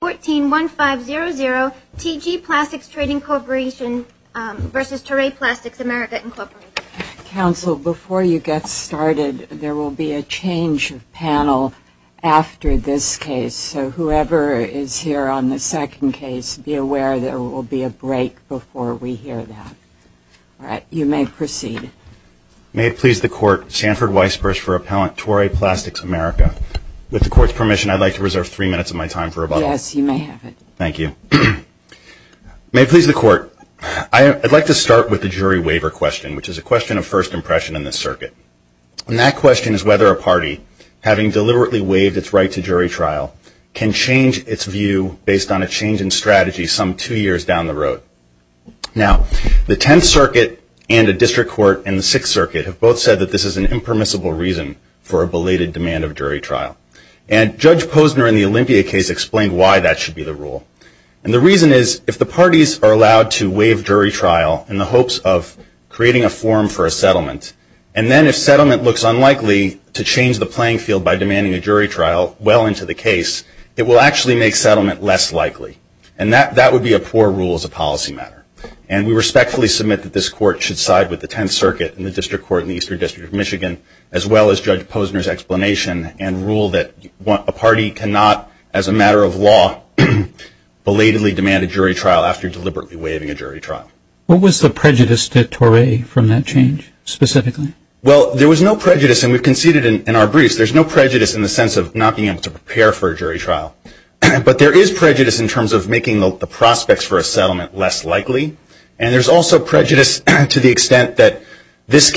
Counsel, before you get started, there will be a change of panel after this case, so whoever is here on the second case, be aware there will be a break before we hear that. All right, you may proceed. May it please the Court, Sanford Weisbursch for Appellant Toray Plastics, America. With the Court's permission, I'd like to reserve three minutes of my time for rebuttal. Yes, you may have it. Thank you. May it please the Court, I'd like to start with the jury waiver question, which is a question of first impression in this circuit. And that question is whether a party, having deliberately waived its right to jury trial, can change its view based on a change in strategy some two years down the road. Now, the Tenth Circuit and a district court in the Sixth Circuit have both said that this is an impermissible reason for a belated demand of jury trial. And Judge Posner in the Olympia case explained why that should be the rule. And the reason is, if the parties are allowed to waive jury trial in the hopes of creating a forum for a settlement, and then if settlement looks unlikely to change the playing field by demanding a jury trial well into the case, it will actually make settlement less likely. And that would be a poor rule as a policy matter. And we respectfully submit that this Court should side with the Tenth Circuit and the district court in the Eastern District of Michigan, as well as Judge Posner's explanation, and rule that a party cannot, as a matter of law, belatedly demand a jury trial after deliberately waiving a jury trial. What was the prejudice to Toray from that change, specifically? Well, there was no prejudice. And we've conceded in our briefs, there's no prejudice in the sense of not being able to prepare for a jury trial. But there is prejudice in terms of making the prospects for a settlement less likely. And there's also prejudice to the this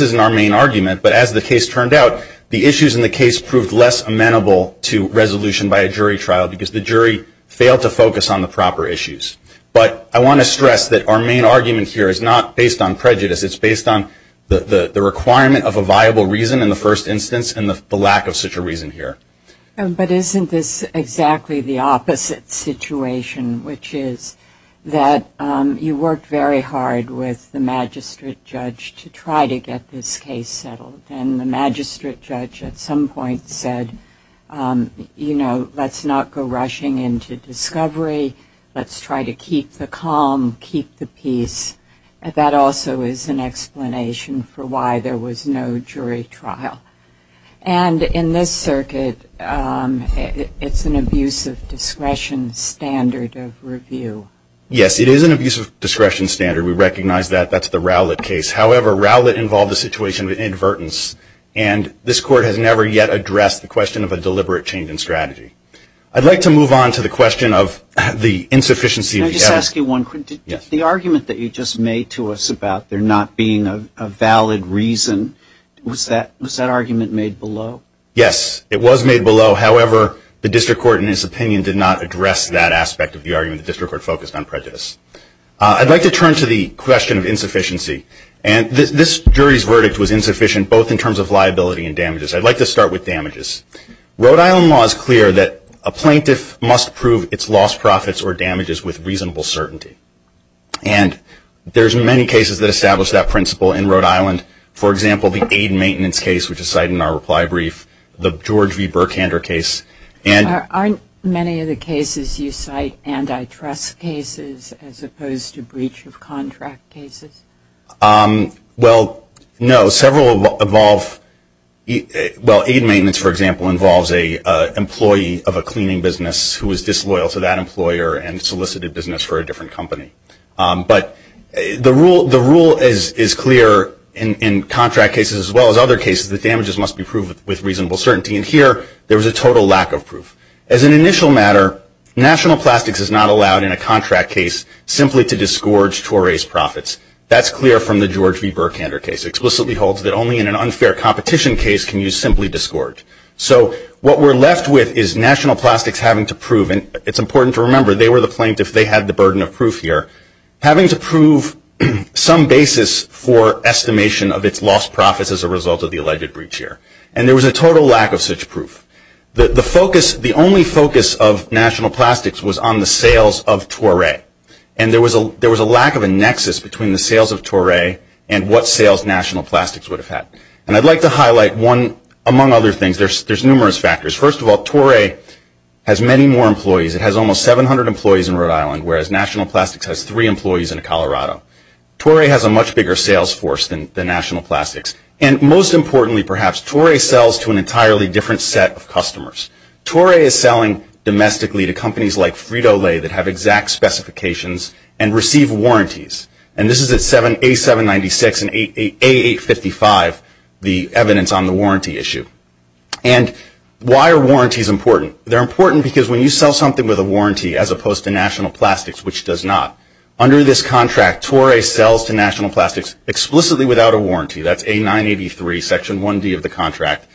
isn't our main argument, but as the case turned out, the issues in the case proved less amenable to resolution by a jury trial, because the jury failed to focus on the proper issues. But I want to stress that our main argument here is not based on prejudice. It's based on the requirement of a viable reason in the first instance, and the lack of such a reason here. But isn't this exactly the opposite situation, which is that you worked very hard with the magistrate judge to try to get this case settled. And the magistrate judge at some point said, you know, let's not go rushing into discovery. Let's try to keep the calm, keep the peace. That also is an explanation for why there was no jury trial. And in this circuit, it's an abuse of discretion standard of review. Yes, it is an abuse of discretion standard. We recognize that. That's the Rowlett case. However, Rowlett involved a situation of inadvertence, and this court has never yet addressed the question of a deliberate change in strategy. I'd like to move on to the question of the insufficiency of the evidence. Can I just ask you one quick, the argument that you just made to us about there not being a valid reason, was that argument made below? Yes, it was made below. However, the district court, in its opinion, did not address that aspect of the argument. The district court focused on prejudice. I'd like to turn to the question of insufficiency. And this jury's verdict was insufficient both in terms of liability and damages. I'd like to start with damages. Rhode Island law is clear that a plaintiff must prove its lost profits or damages with reasonable certainty. And there's many cases that establish that principle in Rhode Island. For example, the aid and maintenance case, which is cited in our reply brief, the George v. Burkander case, and Aren't many of the cases you cite antitrust cases as opposed to breach of contract cases? Well, no. Several involve, well, aid maintenance, for example, involves an employee of a cleaning business who is disloyal to that employer and solicited business for a different company. But the rule is clear in contract cases as well as other cases that damages must be proved with reasonable certainty. And here, there was a total lack of proof. As an initial matter, National Plastics is not allowed in a contract case simply to disgorge Toray's profits. That's clear from the George v. Burkander case. It explicitly holds that only in an unfair competition case can you simply disgorge. So what we're left with is National Plastics having to prove, and it's important to remember they were the plaintiff, they had the burden of proof here, having to prove some basis for estimation of its lost profits as a result of the alleged breach here. And there was a total lack of such proof. The focus, the only focus of National Plastics was on the sales of Toray. And there was a lack of a nexus between the sales of Toray and what sales National Plastics would have had. And I'd like to highlight one, among other things, there's numerous factors. First of all, Toray has many more employees. It has almost 700 employees in Rhode Island, whereas National Plastics has three employees in Colorado. Toray has a much bigger sales force than National Plastics. And most importantly, perhaps, Toray sells to an entirely different set of customers. Toray is selling domestically to companies like Frito-Lay that have exact specifications and receive warranties. And this is at A796 and A855, the evidence on the warranty issue. And why are warranties important? They're important because when you sell something with a warranty as opposed to National Plastics, which does not, under this contract, Toray sells to National Plastics explicitly without a warranty. That's A983, Section 1D of the contract.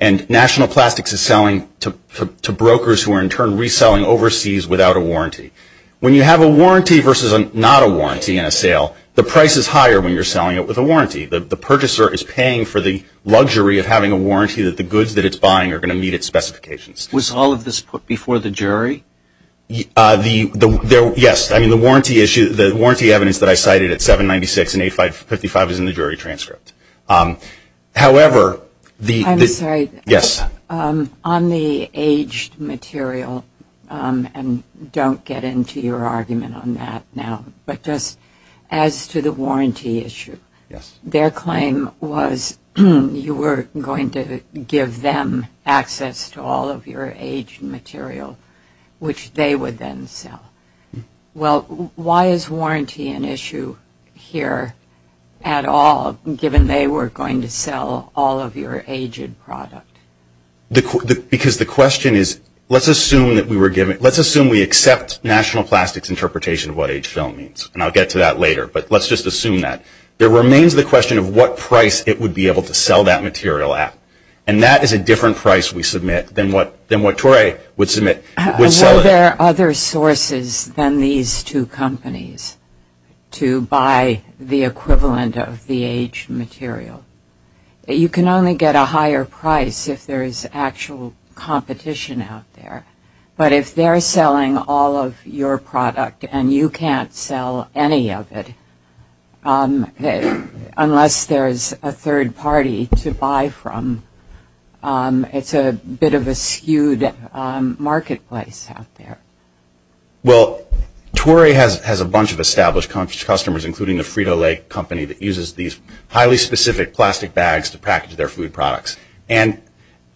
And National Plastics is selling to brokers who are in turn reselling overseas without a warranty. When you have a warranty versus not a warranty in a sale, the price is higher when you're selling it with a warranty. The purchaser is paying for the luxury of having a warranty that the goods that it's buying are going to meet its specifications. Was all of this put before the jury? Yes. I mean, the warranty issue, the warranty evidence that I cited at A796 and A855 is in the jury transcript. However, the I'm sorry. Yes. On the aged material, and don't get into your argument on that now, but just as to the warranty issue. Yes. Their claim was you were going to give them access to all of your aged material, which they would then sell. Well, why is warranty an issue here at all, given they were going to sell all of your aged product? Because the question is, let's assume that we were given, let's assume we accept National Plastics' interpretation of what aged film means. And I'll get to that later, but let's just assume that. There remains the question of what price it would be able to sell that material at. And that is a different price we submit than what Toray would submit, would sell it. Are there other sources than these two companies to buy the equivalent of the aged material? You can only get a higher price if there is actual competition out there. But if they're selling all of your product and you can't sell any of it, unless there's a third party to buy from, it's a bit of a skewed marketplace out there. Well, Toray has a bunch of established customers, including the Frito-Lay company that uses these highly specific plastic bags to package their food products. And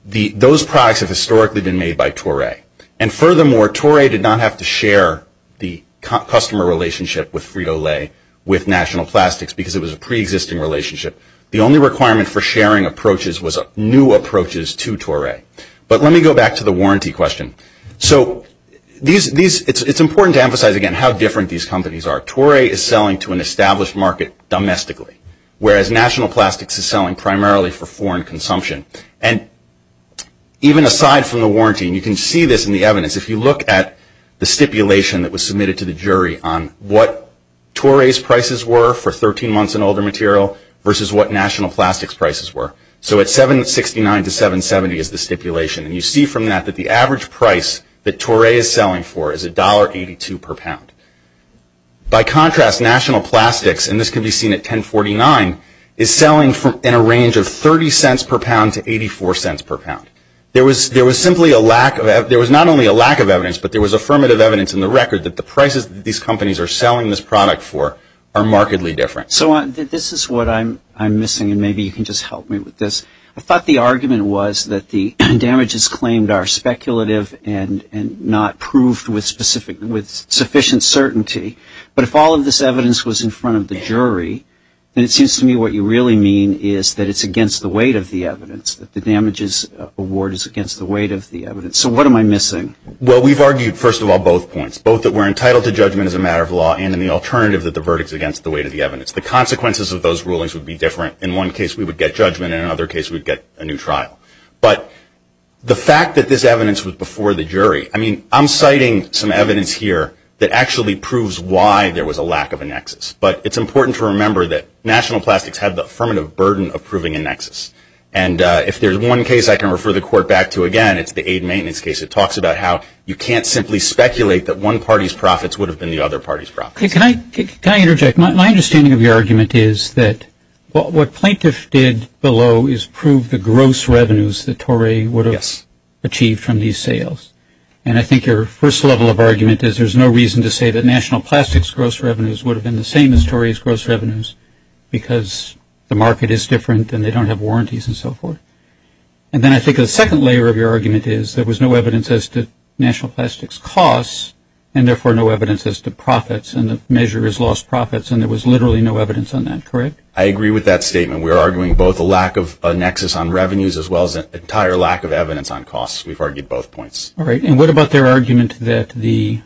those products have been sold to Toray. Toray did not have to share the customer relationship with Frito-Lay with National Plastics because it was a pre-existing relationship. The only requirement for sharing approaches was new approaches to Toray. But let me go back to the warranty question. So it's important to emphasize again how different these companies are. Toray is selling to an established market domestically, whereas National Plastics is selling primarily for foreign consumption. And even aside from the warranty, you can see this in the evidence. If you look at the stipulation that was submitted to the jury on what Toray's prices were for 13 months and older material versus what National Plastics' prices were. So at $769 to $770 is the stipulation. And you see from that that the average price that Toray is selling for is $1.82 per pound. By contrast, National Plastics, and this can be seen at $10.49, is selling in a range of not only a lack of evidence, but there was affirmative evidence in the record that the prices that these companies are selling this product for are markedly different. So this is what I'm missing, and maybe you can just help me with this. I thought the argument was that the damages claimed are speculative and not proved with sufficient certainty. But if all of this evidence was in front of the jury, then it seems to me what you really mean is that it's against the weight of the evidence, that the damages award is against the weight of the evidence. So what am I missing? Well, we've argued, first of all, both points, both that we're entitled to judgment as a matter of law and in the alternative that the verdict is against the weight of the evidence. The consequences of those rulings would be different. In one case, we would get judgment, and in another case, we'd get a new trial. But the fact that this evidence was before the jury, I mean, I'm citing some evidence here that actually proves why there was a lack of a nexus. But it's important to remember that National Plastics had the affirmative burden of proving a nexus. And if there's one case I can refer the Court back to again, it's the aid maintenance case. It talks about how you can't simply speculate that one party's profits would have been the other party's profits. Can I interject? My understanding of your argument is that what plaintiffs did below is prove the gross revenues that Torrey would have achieved from these sales. And I think your first level of argument is there's no reason to say that National Plastics' gross revenues would have been the same as Torrey's gross revenues because the market is different and they don't have warranties and so forth. And then I think the second layer of your argument is there was no evidence as to National Plastics' costs and therefore no evidence as to profits and the measure is lost profits and there was literally no evidence on that. Correct? I agree with that statement. We are arguing both a lack of a nexus on revenues as well as an entire lack of evidence on costs. We've argued both points. All right. And what about their argument that the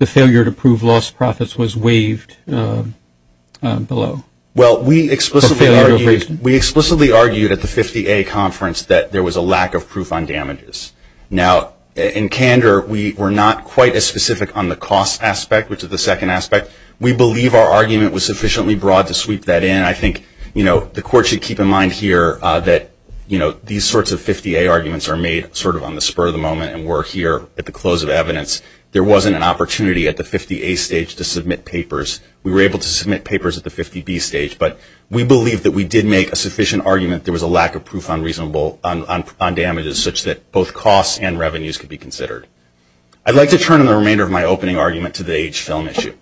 failure to prove lost profits was waived below? Well, we explicitly argued at the 50A conference that there was a lack of proof on damages. Now, in candor, we were not quite as specific on the cost aspect, which is the second aspect. We believe our argument was sufficiently broad to sweep that in. I think, you know, the Court should keep in mind here that, you know, these sorts of 50A arguments are made sort of on the spur of the moment and we're here at the close of evidence. There wasn't an opportunity at the 50A stage to submit papers. We were able to submit papers at the 50B stage, but we believe that we did make a sufficient argument there was a lack of proof on damages such that both costs and revenues could be considered. I'd like to turn in the remainder of my opening argument to the age film issue.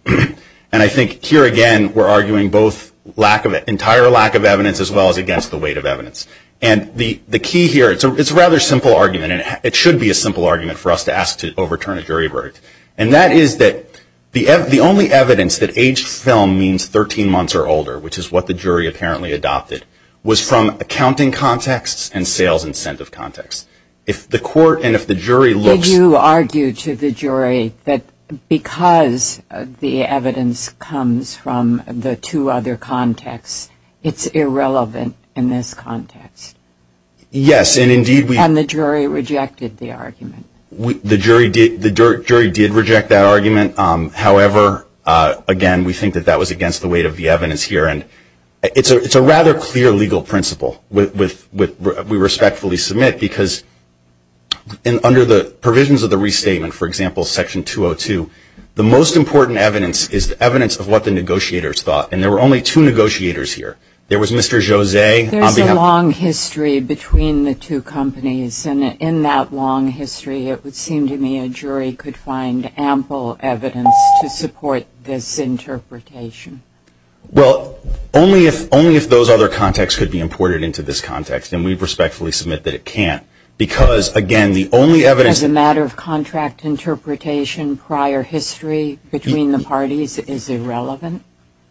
And I think here again, we're arguing both lack of an entire lack of evidence as well as against the weight of evidence. And the key here, it's a rather simple argument and it should be a simple argument for us to ask to overturn a jury verdict. And that is that the only evidence that age film means 13 months or older, which is what the jury apparently adopted, was from accounting contexts and sales incentive contexts. If the Court and if the jury looks Did you argue to the jury that because the evidence comes from the two other contexts, it's irrelevant in this context? Yes, and indeed we And the jury rejected the argument. The jury did reject that argument. However, again, we think that that was against the weight of the evidence here. And it's a rather clear legal principle with we respectfully submit because under the provisions of the restatement, for example, Section 202, the most important evidence is the evidence of what the negotiators thought. And there were only two negotiators here. There was Mr. Jose on behalf There's a long history between the two companies. And in that long history, it would seem to me a jury could find ample evidence to support this interpretation. Well, only if those other contexts could be imported into this context. And we respectfully submit that it can't. Because, again, the only evidence As a matter of contract interpretation, prior history between the parties is irrelevant?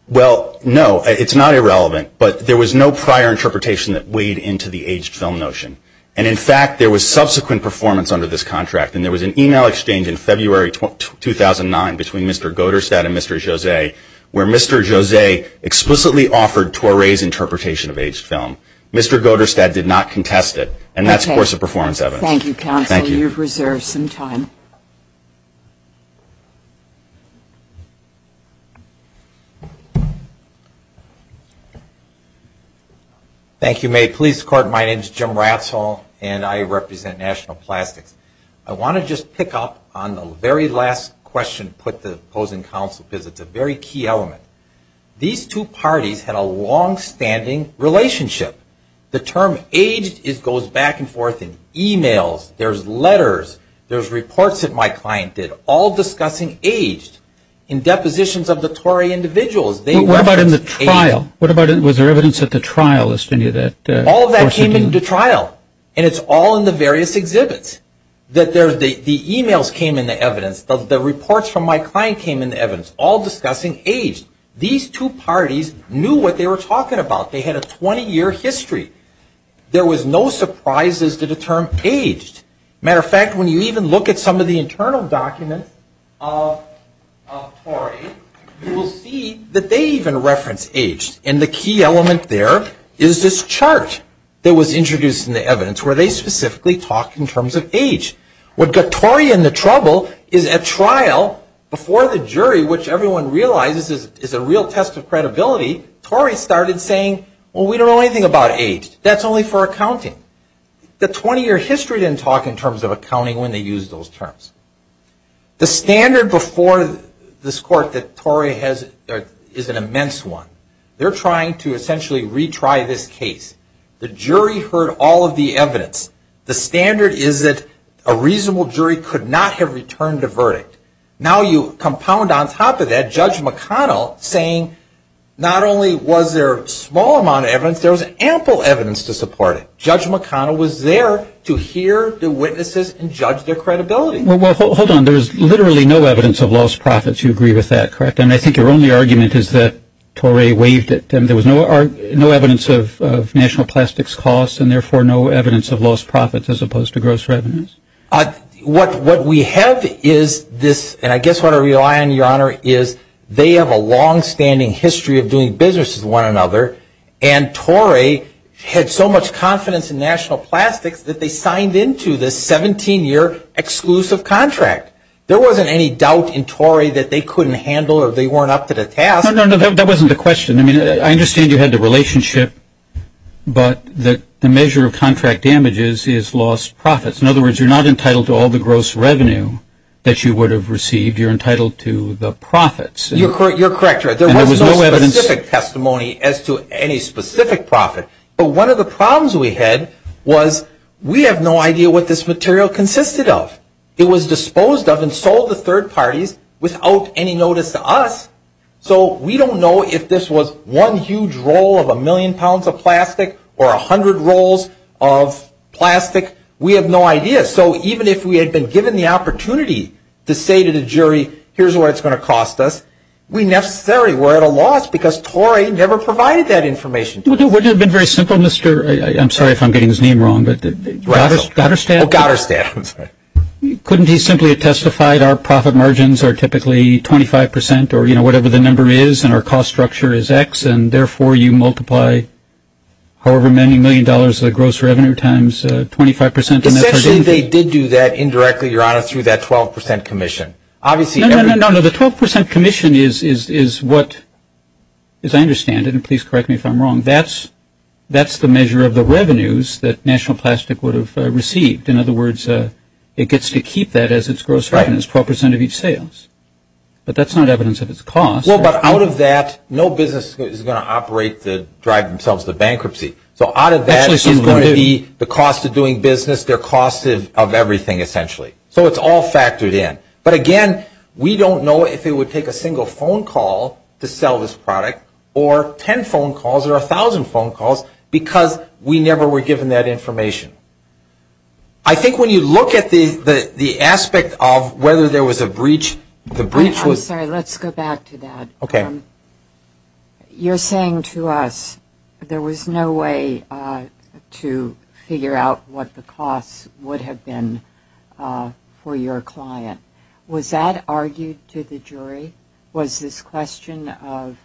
Well, no, it's not irrelevant. But there was no prior interpretation that weighed into the aged film notion. And in fact, there was subsequent performance under this contract. And there was an email exchange in February 2009 between Mr. Goderstadt and Mr. Jose where Mr. Jose explicitly offered Toure's interpretation of aged film. Mr. Goderstadt did not contest it. And that's course of performance evidence. Thank you, counsel. You've reserved some time. Thank you, Mae. Police, court, my name is Jim Ratzel and I represent National Plastics. I want to just pick up on the very last question put to opposing counsel because it's a very key element. These two parties had a longstanding relationship. The term aged goes back and forth. The reports that my client did, all discussing aged, in depositions of the Toure individuals. What about in the trial? Was there evidence at the trial? All of that came into trial. And it's all in the various exhibits. The emails came in the evidence. The reports from my client came in the evidence, all discussing aged. These two parties knew what they were talking about. They had a 20-year history. There was no surprises to the term aged. As a matter of fact, when you even look at some of the internal documents of Toure, you will see that they even reference aged. And the key element there is this chart that was introduced in the evidence where they specifically talk in terms of age. What got Toure in the trouble is at trial, before the jury, which everyone realizes is a real test of credibility, Toure started saying, well, we don't know anything about aged. That's only for accounting. The 20-year history didn't talk in terms of accounting when they used those terms. The standard before this court that Toure has is an immense one. They're trying to essentially retry this case. The jury heard all of the evidence. The standard is that a reasonable jury could not have returned a verdict. Now you compound on top of that Judge McConnell saying not only was there a small amount of evidence, there was ample evidence to support it. Judge McConnell was there to hear the witnesses and judge their credibility. Well, hold on. There's literally no evidence of lost profits. You agree with that, correct? And I think your only argument is that Toure waived it. There was no evidence of national plastics costs and therefore no evidence of lost profits as opposed to gross revenues. What we have is this, and I guess what I rely on, Your Honor, is they have a longstanding history of doing business with one another, and Toure had so much confidence in national plastics that they signed into this 17-year exclusive contract. There wasn't any doubt in Toure that they couldn't handle or they weren't up to the task. No, no, no. That wasn't the question. I mean, I understand you had the relationship, but the measure of contract damages is lost profits. In other words, you're not entitled to all the gross revenue that you would have received. You're entitled to the profits. You're correct, Your Honor. There was no specific testimony as to any specific profit. But one of the problems we had was we have no idea what this material consisted of. It was disposed of and sold to third parties without any notice to us. So we don't know if this was one huge roll of a million pounds of plastic or a hundred rolls of plastic. We have no idea. So even if we had been given the opportunity to say to the jury, here's what it's going to cost us, we necessarily were at a loss because Toure never provided that information to us. Well, wouldn't it have been very simple, Mr. I'm sorry if I'm getting his name wrong, but Gouderstadt? Gouderstadt, I'm sorry. Couldn't he simply have testified our profit margins are typically 25 percent or, you know, whatever the number is and our cost structure is X, and therefore you multiply however many million dollars of the gross revenue times 25 percent of that? Actually, they did do that indirectly, Your Honor, through that 12 percent commission. No, no, no. The 12 percent commission is what, as I understand it, and please correct me if I'm wrong, that's the measure of the revenues that National Plastic would have received. In other words, it gets to keep that as its gross revenues, 12 percent of each sales. But that's not evidence of its cost. Well, but out of that, no business is going to operate to drive themselves to bankruptcy. So out of that is going to be the cost of doing business, their cost of everything essentially. So it's all factored in. But again, we don't know if it would take a single phone call to sell this product or 10 phone calls or 1,000 phone calls because we never were given that information. I think when you look at the aspect of whether there was a breach, the breach was Sorry, let's go back to that. You're saying to us there was no way to figure out what the costs would have been for your client. Was that argued to the jury? Was this question of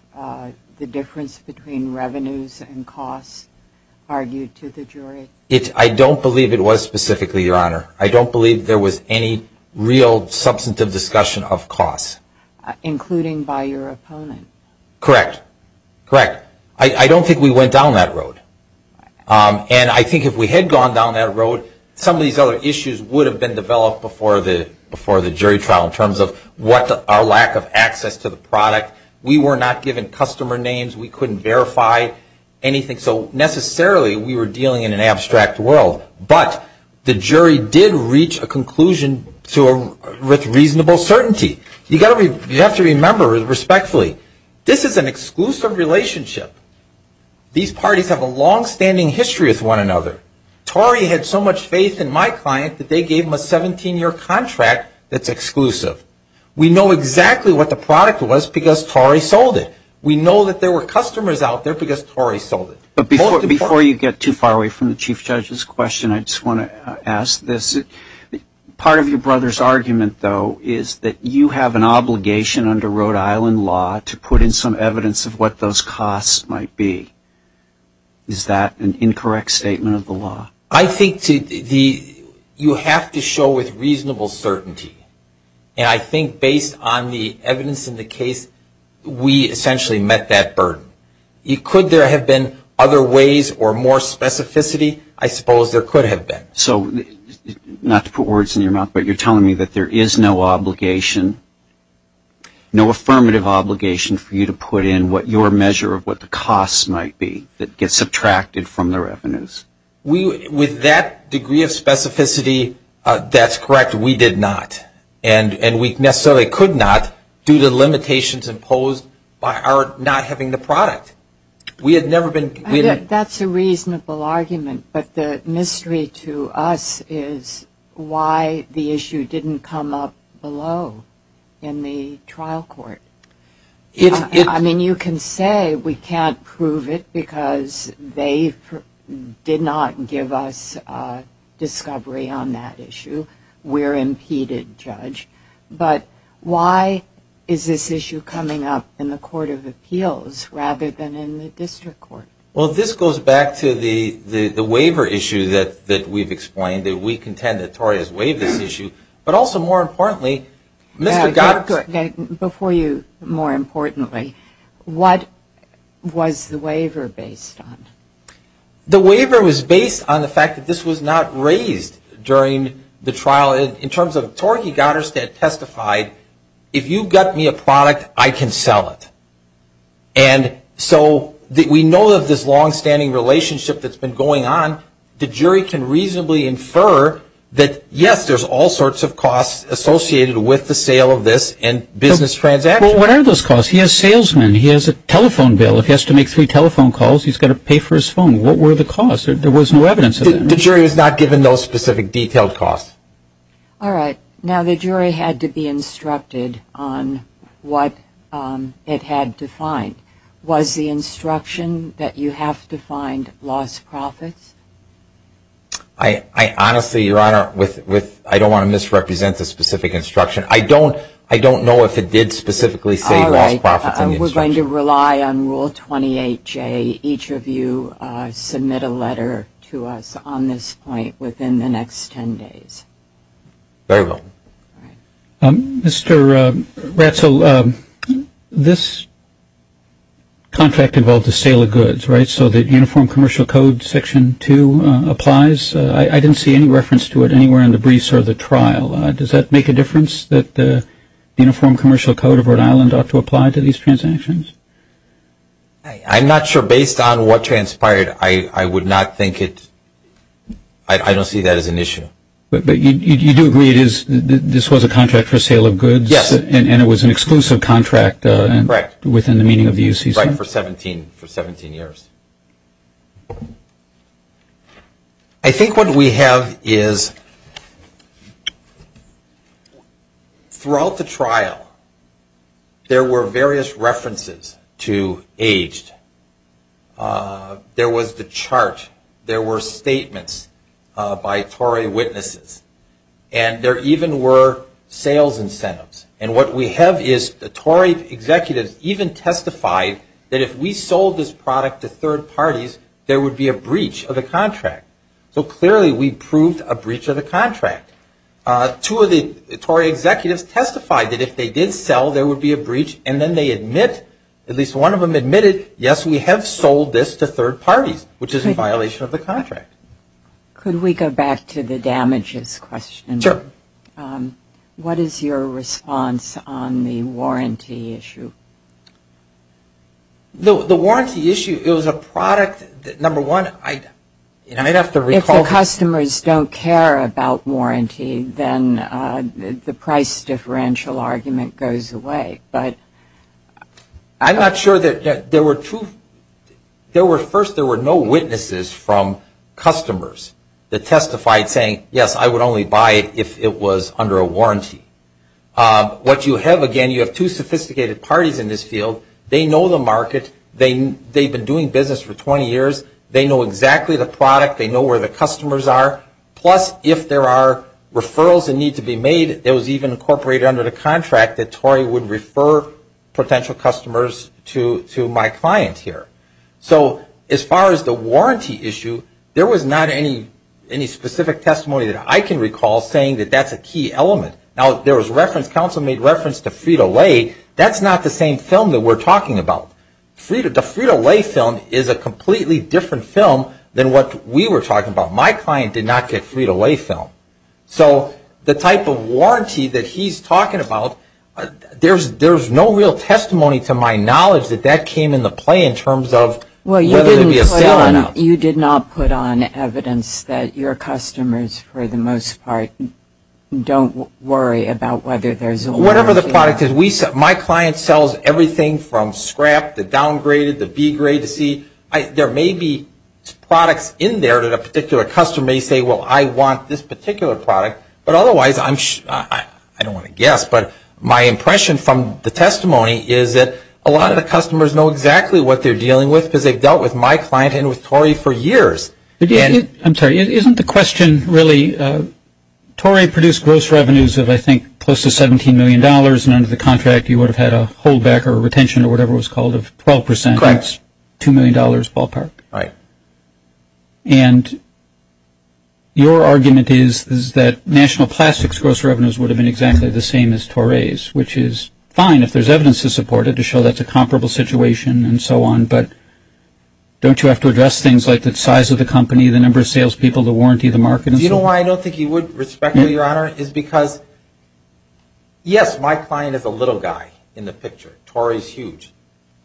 the difference between revenues and costs argued to the jury? I don't believe there was any real substantive discussion of costs. Including by your opponent? Correct. Correct. I don't think we went down that road. And I think if we had gone down that road, some of these other issues would have been developed before the jury trial in terms of our lack of access to the product. We were not given customer names. We couldn't verify anything. So necessarily we were dealing in an abstract world. But the jury did reach a conclusion with reasonable certainty. You have to remember respectfully, this is an exclusive relationship. These parties have a longstanding history with one another. Torey had so much faith in my client that they gave him a 17-year contract that's exclusive. We know exactly what the product was because Torey sold it. We know that there were customers out there because Torey sold it. But before you get too far away from the Chief Judge's question, I just want to ask this. Part of your brother's argument, though, is that you have an obligation under Rhode Island law to put in some evidence of what those costs might be. Is that an incorrect statement of the law? I think you have to show with reasonable certainty. And I think based on the evidence in the case, we essentially met that burden. Could there have been other ways or more specificity? I suppose there could have been. So, not to put words in your mouth, but you're telling me that there is no obligation, no affirmative obligation for you to put in what your measure of what the costs might be that gets subtracted from the revenues? With that degree of specificity, that's correct. We did not. And we necessarily could not due to the limitations imposed by our not having the product. We had never been... That's a reasonable argument. But the mystery to us is why the issue didn't come up below in the trial court. I mean, you can say we can't prove it because they did not give us a discovery on that issue. We're impeded, Judge. But why is this issue coming up in the Court of Appeals rather than in the district court? Well, this goes back to the waiver issue that we've explained, that we contend that Tori has waived this issue. But also, more importantly, Mr. Goddard... Before you, more importantly, what was the waiver based on? The waiver was based on the fact that this was not raised during the trial. In terms of, Tori Goddard testified, if you've got me a product, I can sell it. And so we know of this long-standing relationship that's been going on. The jury can reasonably infer that, yes, there's all sorts of costs associated with the sale of this and business transactions. Well, what are those costs? He has salesmen. He has a telephone bill. If he has to make three telephone calls, he's got to pay for his phone. What were the costs? There was no evidence of that. The jury was not given those specific detailed costs. All right. Now, the jury had to be instructed on what it had to find. Was the instruction that you have to find lost profits? I honestly, Your Honor, with... I don't want to misrepresent the specific instruction. I don't know if it did specifically say lost profits in the instruction. I'm going to rely on Rule 28J. Each of you submit a letter to us on this point within the next 10 days. Very well. Mr. Ratzel, this contract involved a sale of goods, right? So the Uniform Commercial Code Section 2 applies. I didn't see any reference to it anywhere in the briefs or the trial. Does that make a difference that the Uniform Commercial Code of Rhode Island ought to apply to these transactions? I'm not sure. Based on what transpired, I would not think it... I don't see that as an issue. But you do agree this was a contract for sale of goods? Yes. And it was an exclusive contract within the meaning of the UCC? Right, for 17 years. I think what we have is throughout the trial there were various references to aged. There was the chart. There were statements by Tory witnesses. And there even were sales incentives. And what we have is the Tory executives even testified that if we sold this product to third parties, there would be a breach of the contract. So clearly we proved a breach of the contract. Two of the Tory executives testified that if they did sell, there would be a breach and then they admit, at least one of them admitted, yes we have sold this to third parties, which is in violation of the contract. Could we go back to the damages question? Sure. What is your response on the warranty issue? The warranty issue, it was a product that, number one, I'd have to recall... If the customers don't care about warranty, then the price differential argument goes away. I'm not sure that there were two, first there were no witnesses from customers that testified saying yes, I would only buy it if it was under a warranty. What you have, again, you have two sophisticated parties in this field. They know the market. They've been doing business for 20 years. They know exactly the product. They know where the customers are. Plus, if there are referrals that need to be made, it was even incorporated under the contract that Tory would refer potential customers to my client here. So as far as the warranty issue, there was not any specific testimony that I can recall saying that that's a key element. Now, there was reference, counsel made reference to Frito-Lay. That's not the same film that we're talking about. The Frito-Lay film is a completely different film than what we were talking about. My client did not get Frito-Lay film. So the type of warranty that he's talking about, there's no real testimony to my knowledge that that came into play in terms of whether there'd be a sale or not. You did not put on evidence that your customers, for the most part, don't worry about whether there's a warranty. Whatever the product is, my client sells everything from scrap to downgraded, to B grade to C. There may be products in there that a particular customer may say, well, I want this particular product. But otherwise, I don't want to guess, but my impression from the testimony is that a lot of the customers know exactly what they're dealing with because they've dealt with my client and with Torey for years. I'm sorry. Isn't the question really Torey produced gross revenues of, I think, close to $17 million, and under the contract you would have had a holdback or a retention or whatever it was called of 12%. Correct. That's $2 million ballpark. Right. And your argument is that National Plastics gross revenues would have been exactly the same as Torey's, which is fine if there's evidence to support it to show that's a comparable situation and so on, but don't you have to address things like the size of the company, the number of salespeople, the warranty, the market? Do you know why I don't think he would respect me, Your Honor, is because, yes, my client is a little guy in the picture. Torey's huge.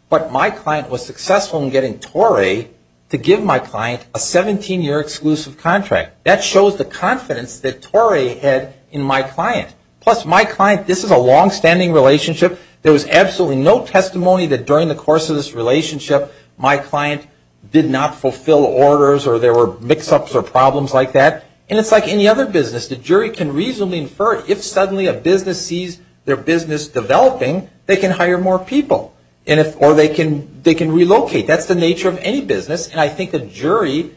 But my client was successful in getting Torey to give my client a 17-year exclusive contract. That shows the confidence that Torey had in my client. Plus, my client, this is a longstanding relationship. There was absolutely no testimony that during the course of this relationship, my client did not fulfill orders or there were mix-ups or problems like that. And it's like any other business. The jury can reasonably infer if suddenly a business sees their business developing, they can hire more people or they can relocate. That's the nature of any business, and I think the jury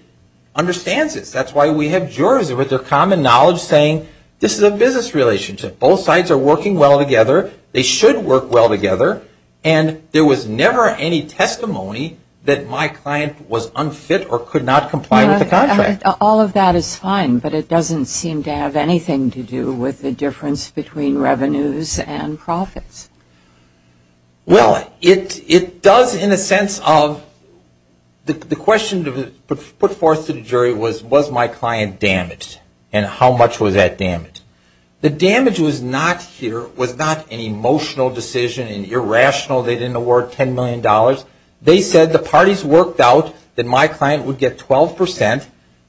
understands this. That's why we have juries with their common knowledge saying this is a business relationship. Both sides are working well together. They should work well together. And there was never any testimony that my client was unfit or could not comply with the contract. All of that is fine, but it doesn't seem to have anything to do with the difference between revenues and profits. Well, it does in a sense of the question put forth to the jury was, was my client damaged and how much was that damaged? The damage was not an emotional decision, an irrational, they didn't award $10 million. They said the parties worked out that my client would get 12%.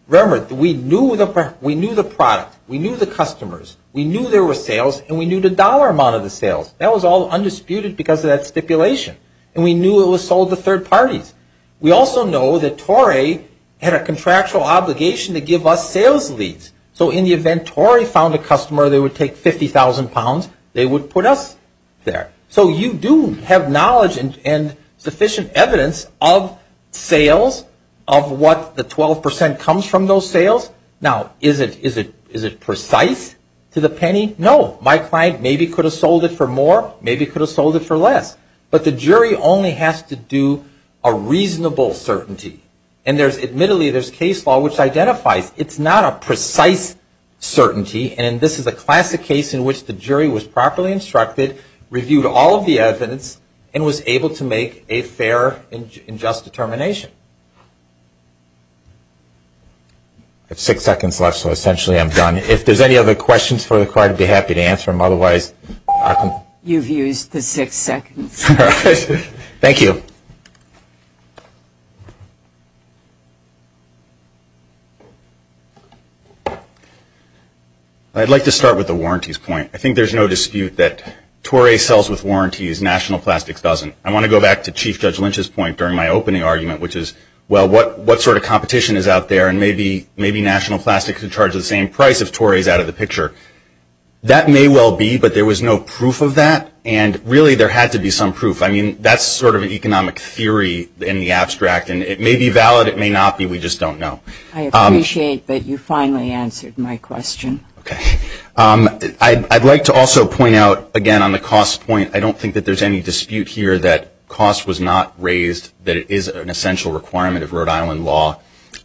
Remember, we knew the product. We knew the customers. We knew there were sales, and we knew the dollar amount of the sales. That was all undisputed because of that stipulation. And we knew it was sold to third parties. We also know that Torrey had a contractual obligation to give us sales leads. So in the event Torrey found a customer, they would take 50,000 pounds. They would put us there. So you do have knowledge and sufficient evidence of sales, of what the 12% comes from those sales. Now, is it precise to the penny? No. My client maybe could have sold it for more, maybe could have sold it for less. But the jury only has to do a reasonable certainty. And admittedly, there's case law which identifies it's not a precise certainty. And this is a classic case in which the jury was properly instructed, reviewed all of the evidence, and was able to make a fair and just determination. I have six seconds left, so essentially I'm done. If there's any other questions for the client, I'd be happy to answer them. Otherwise, I can... You've used the six seconds. Thank you. I'd like to start with the warranties point. I think there's no dispute that Torrey sells with warranties, National Plastics doesn't. I want to go back to Chief Judge Lynch's point during my opening argument, which is, well, what sort of competition is out there, and maybe National Plastics would charge the same price if Torrey's out of the picture. That may well be, but there was no proof of that. And really, there had to be some proof. I mean, that's sort of an economic theory in the abstract, and it may be valid, it may not be, we just don't know. I appreciate that you finally answered my question. Okay. I'd like to also point out, again, on the cost point, I don't think that there's any dispute here that cost was not raised, that it is an essential requirement of Rhode Island law,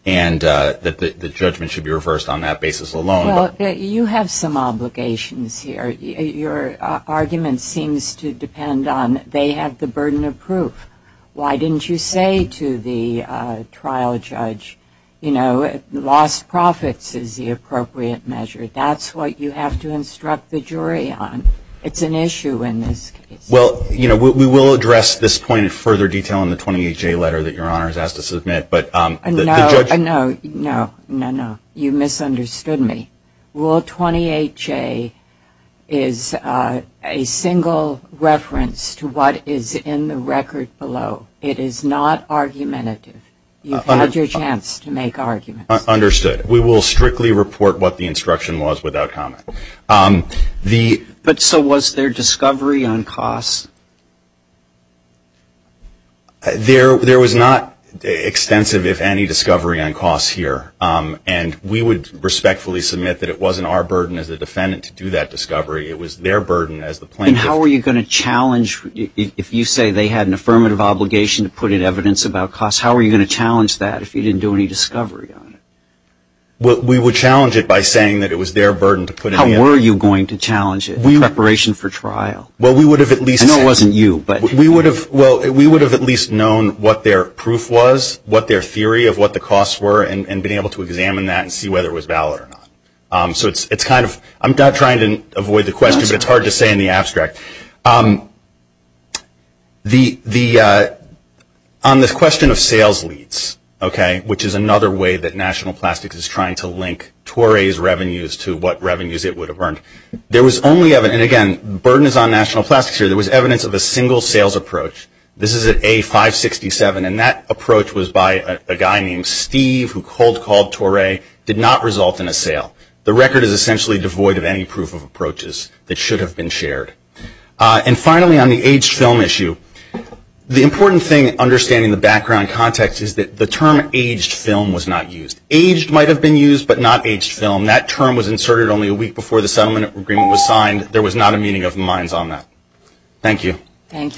and that the judgment should be reversed on that basis alone. Well, you have some obligations here. Your argument seems to depend on they have the burden of proof. Why didn't you say to the trial judge, you know, lost profits is the appropriate measure. That's what you have to instruct the jury on. It's an issue in this case. Well, you know, we will address this point in further detail in the 28-J letter that Your Honor has asked to submit. No, no, no, no, no. You misunderstood me. Rule 28-J is a single reference to what is in the record below. It is not argumentative. You've had your chance to make arguments. Understood. We will strictly report what the instruction was without comment. But so was there discovery on cost? There was not extensive, if any, discovery on cost here, and we would respectfully submit that it wasn't our burden as a defendant to do that discovery. It was their burden as the plaintiff. And how are you going to challenge, if you say they had an affirmative obligation to put in evidence about cost, how are you going to challenge that if you didn't do any discovery on it? Well, we would challenge it by saying that it was their burden to put it in. How were you going to challenge it in preparation for trial? Well, we would have at least. I know it wasn't you, but. Well, we would have at least known what their proof was, what their theory of what the costs were, and been able to examine that and see whether it was valid or not. So it's kind of, I'm not trying to avoid the question, but it's hard to say in the abstract. On the question of sales leads, okay, which is another way that National Plastics is trying to link Toray's revenues to what revenues it would have earned, there was only, and again, the burden is on National Plastics here, there was evidence of a single sales approach. This is at A567, and that approach was by a guy named Steve, who cold called Toray, did not result in a sale. The record is essentially devoid of any proof of approaches that should have been shared. And finally, on the aged film issue, the important thing, understanding the background context, is that the term aged film was not used. Aged might have been used, but not aged film. That term was inserted only a week before the settlement agreement was signed. There was not a meeting of the minds on that. Thank you. Thank you.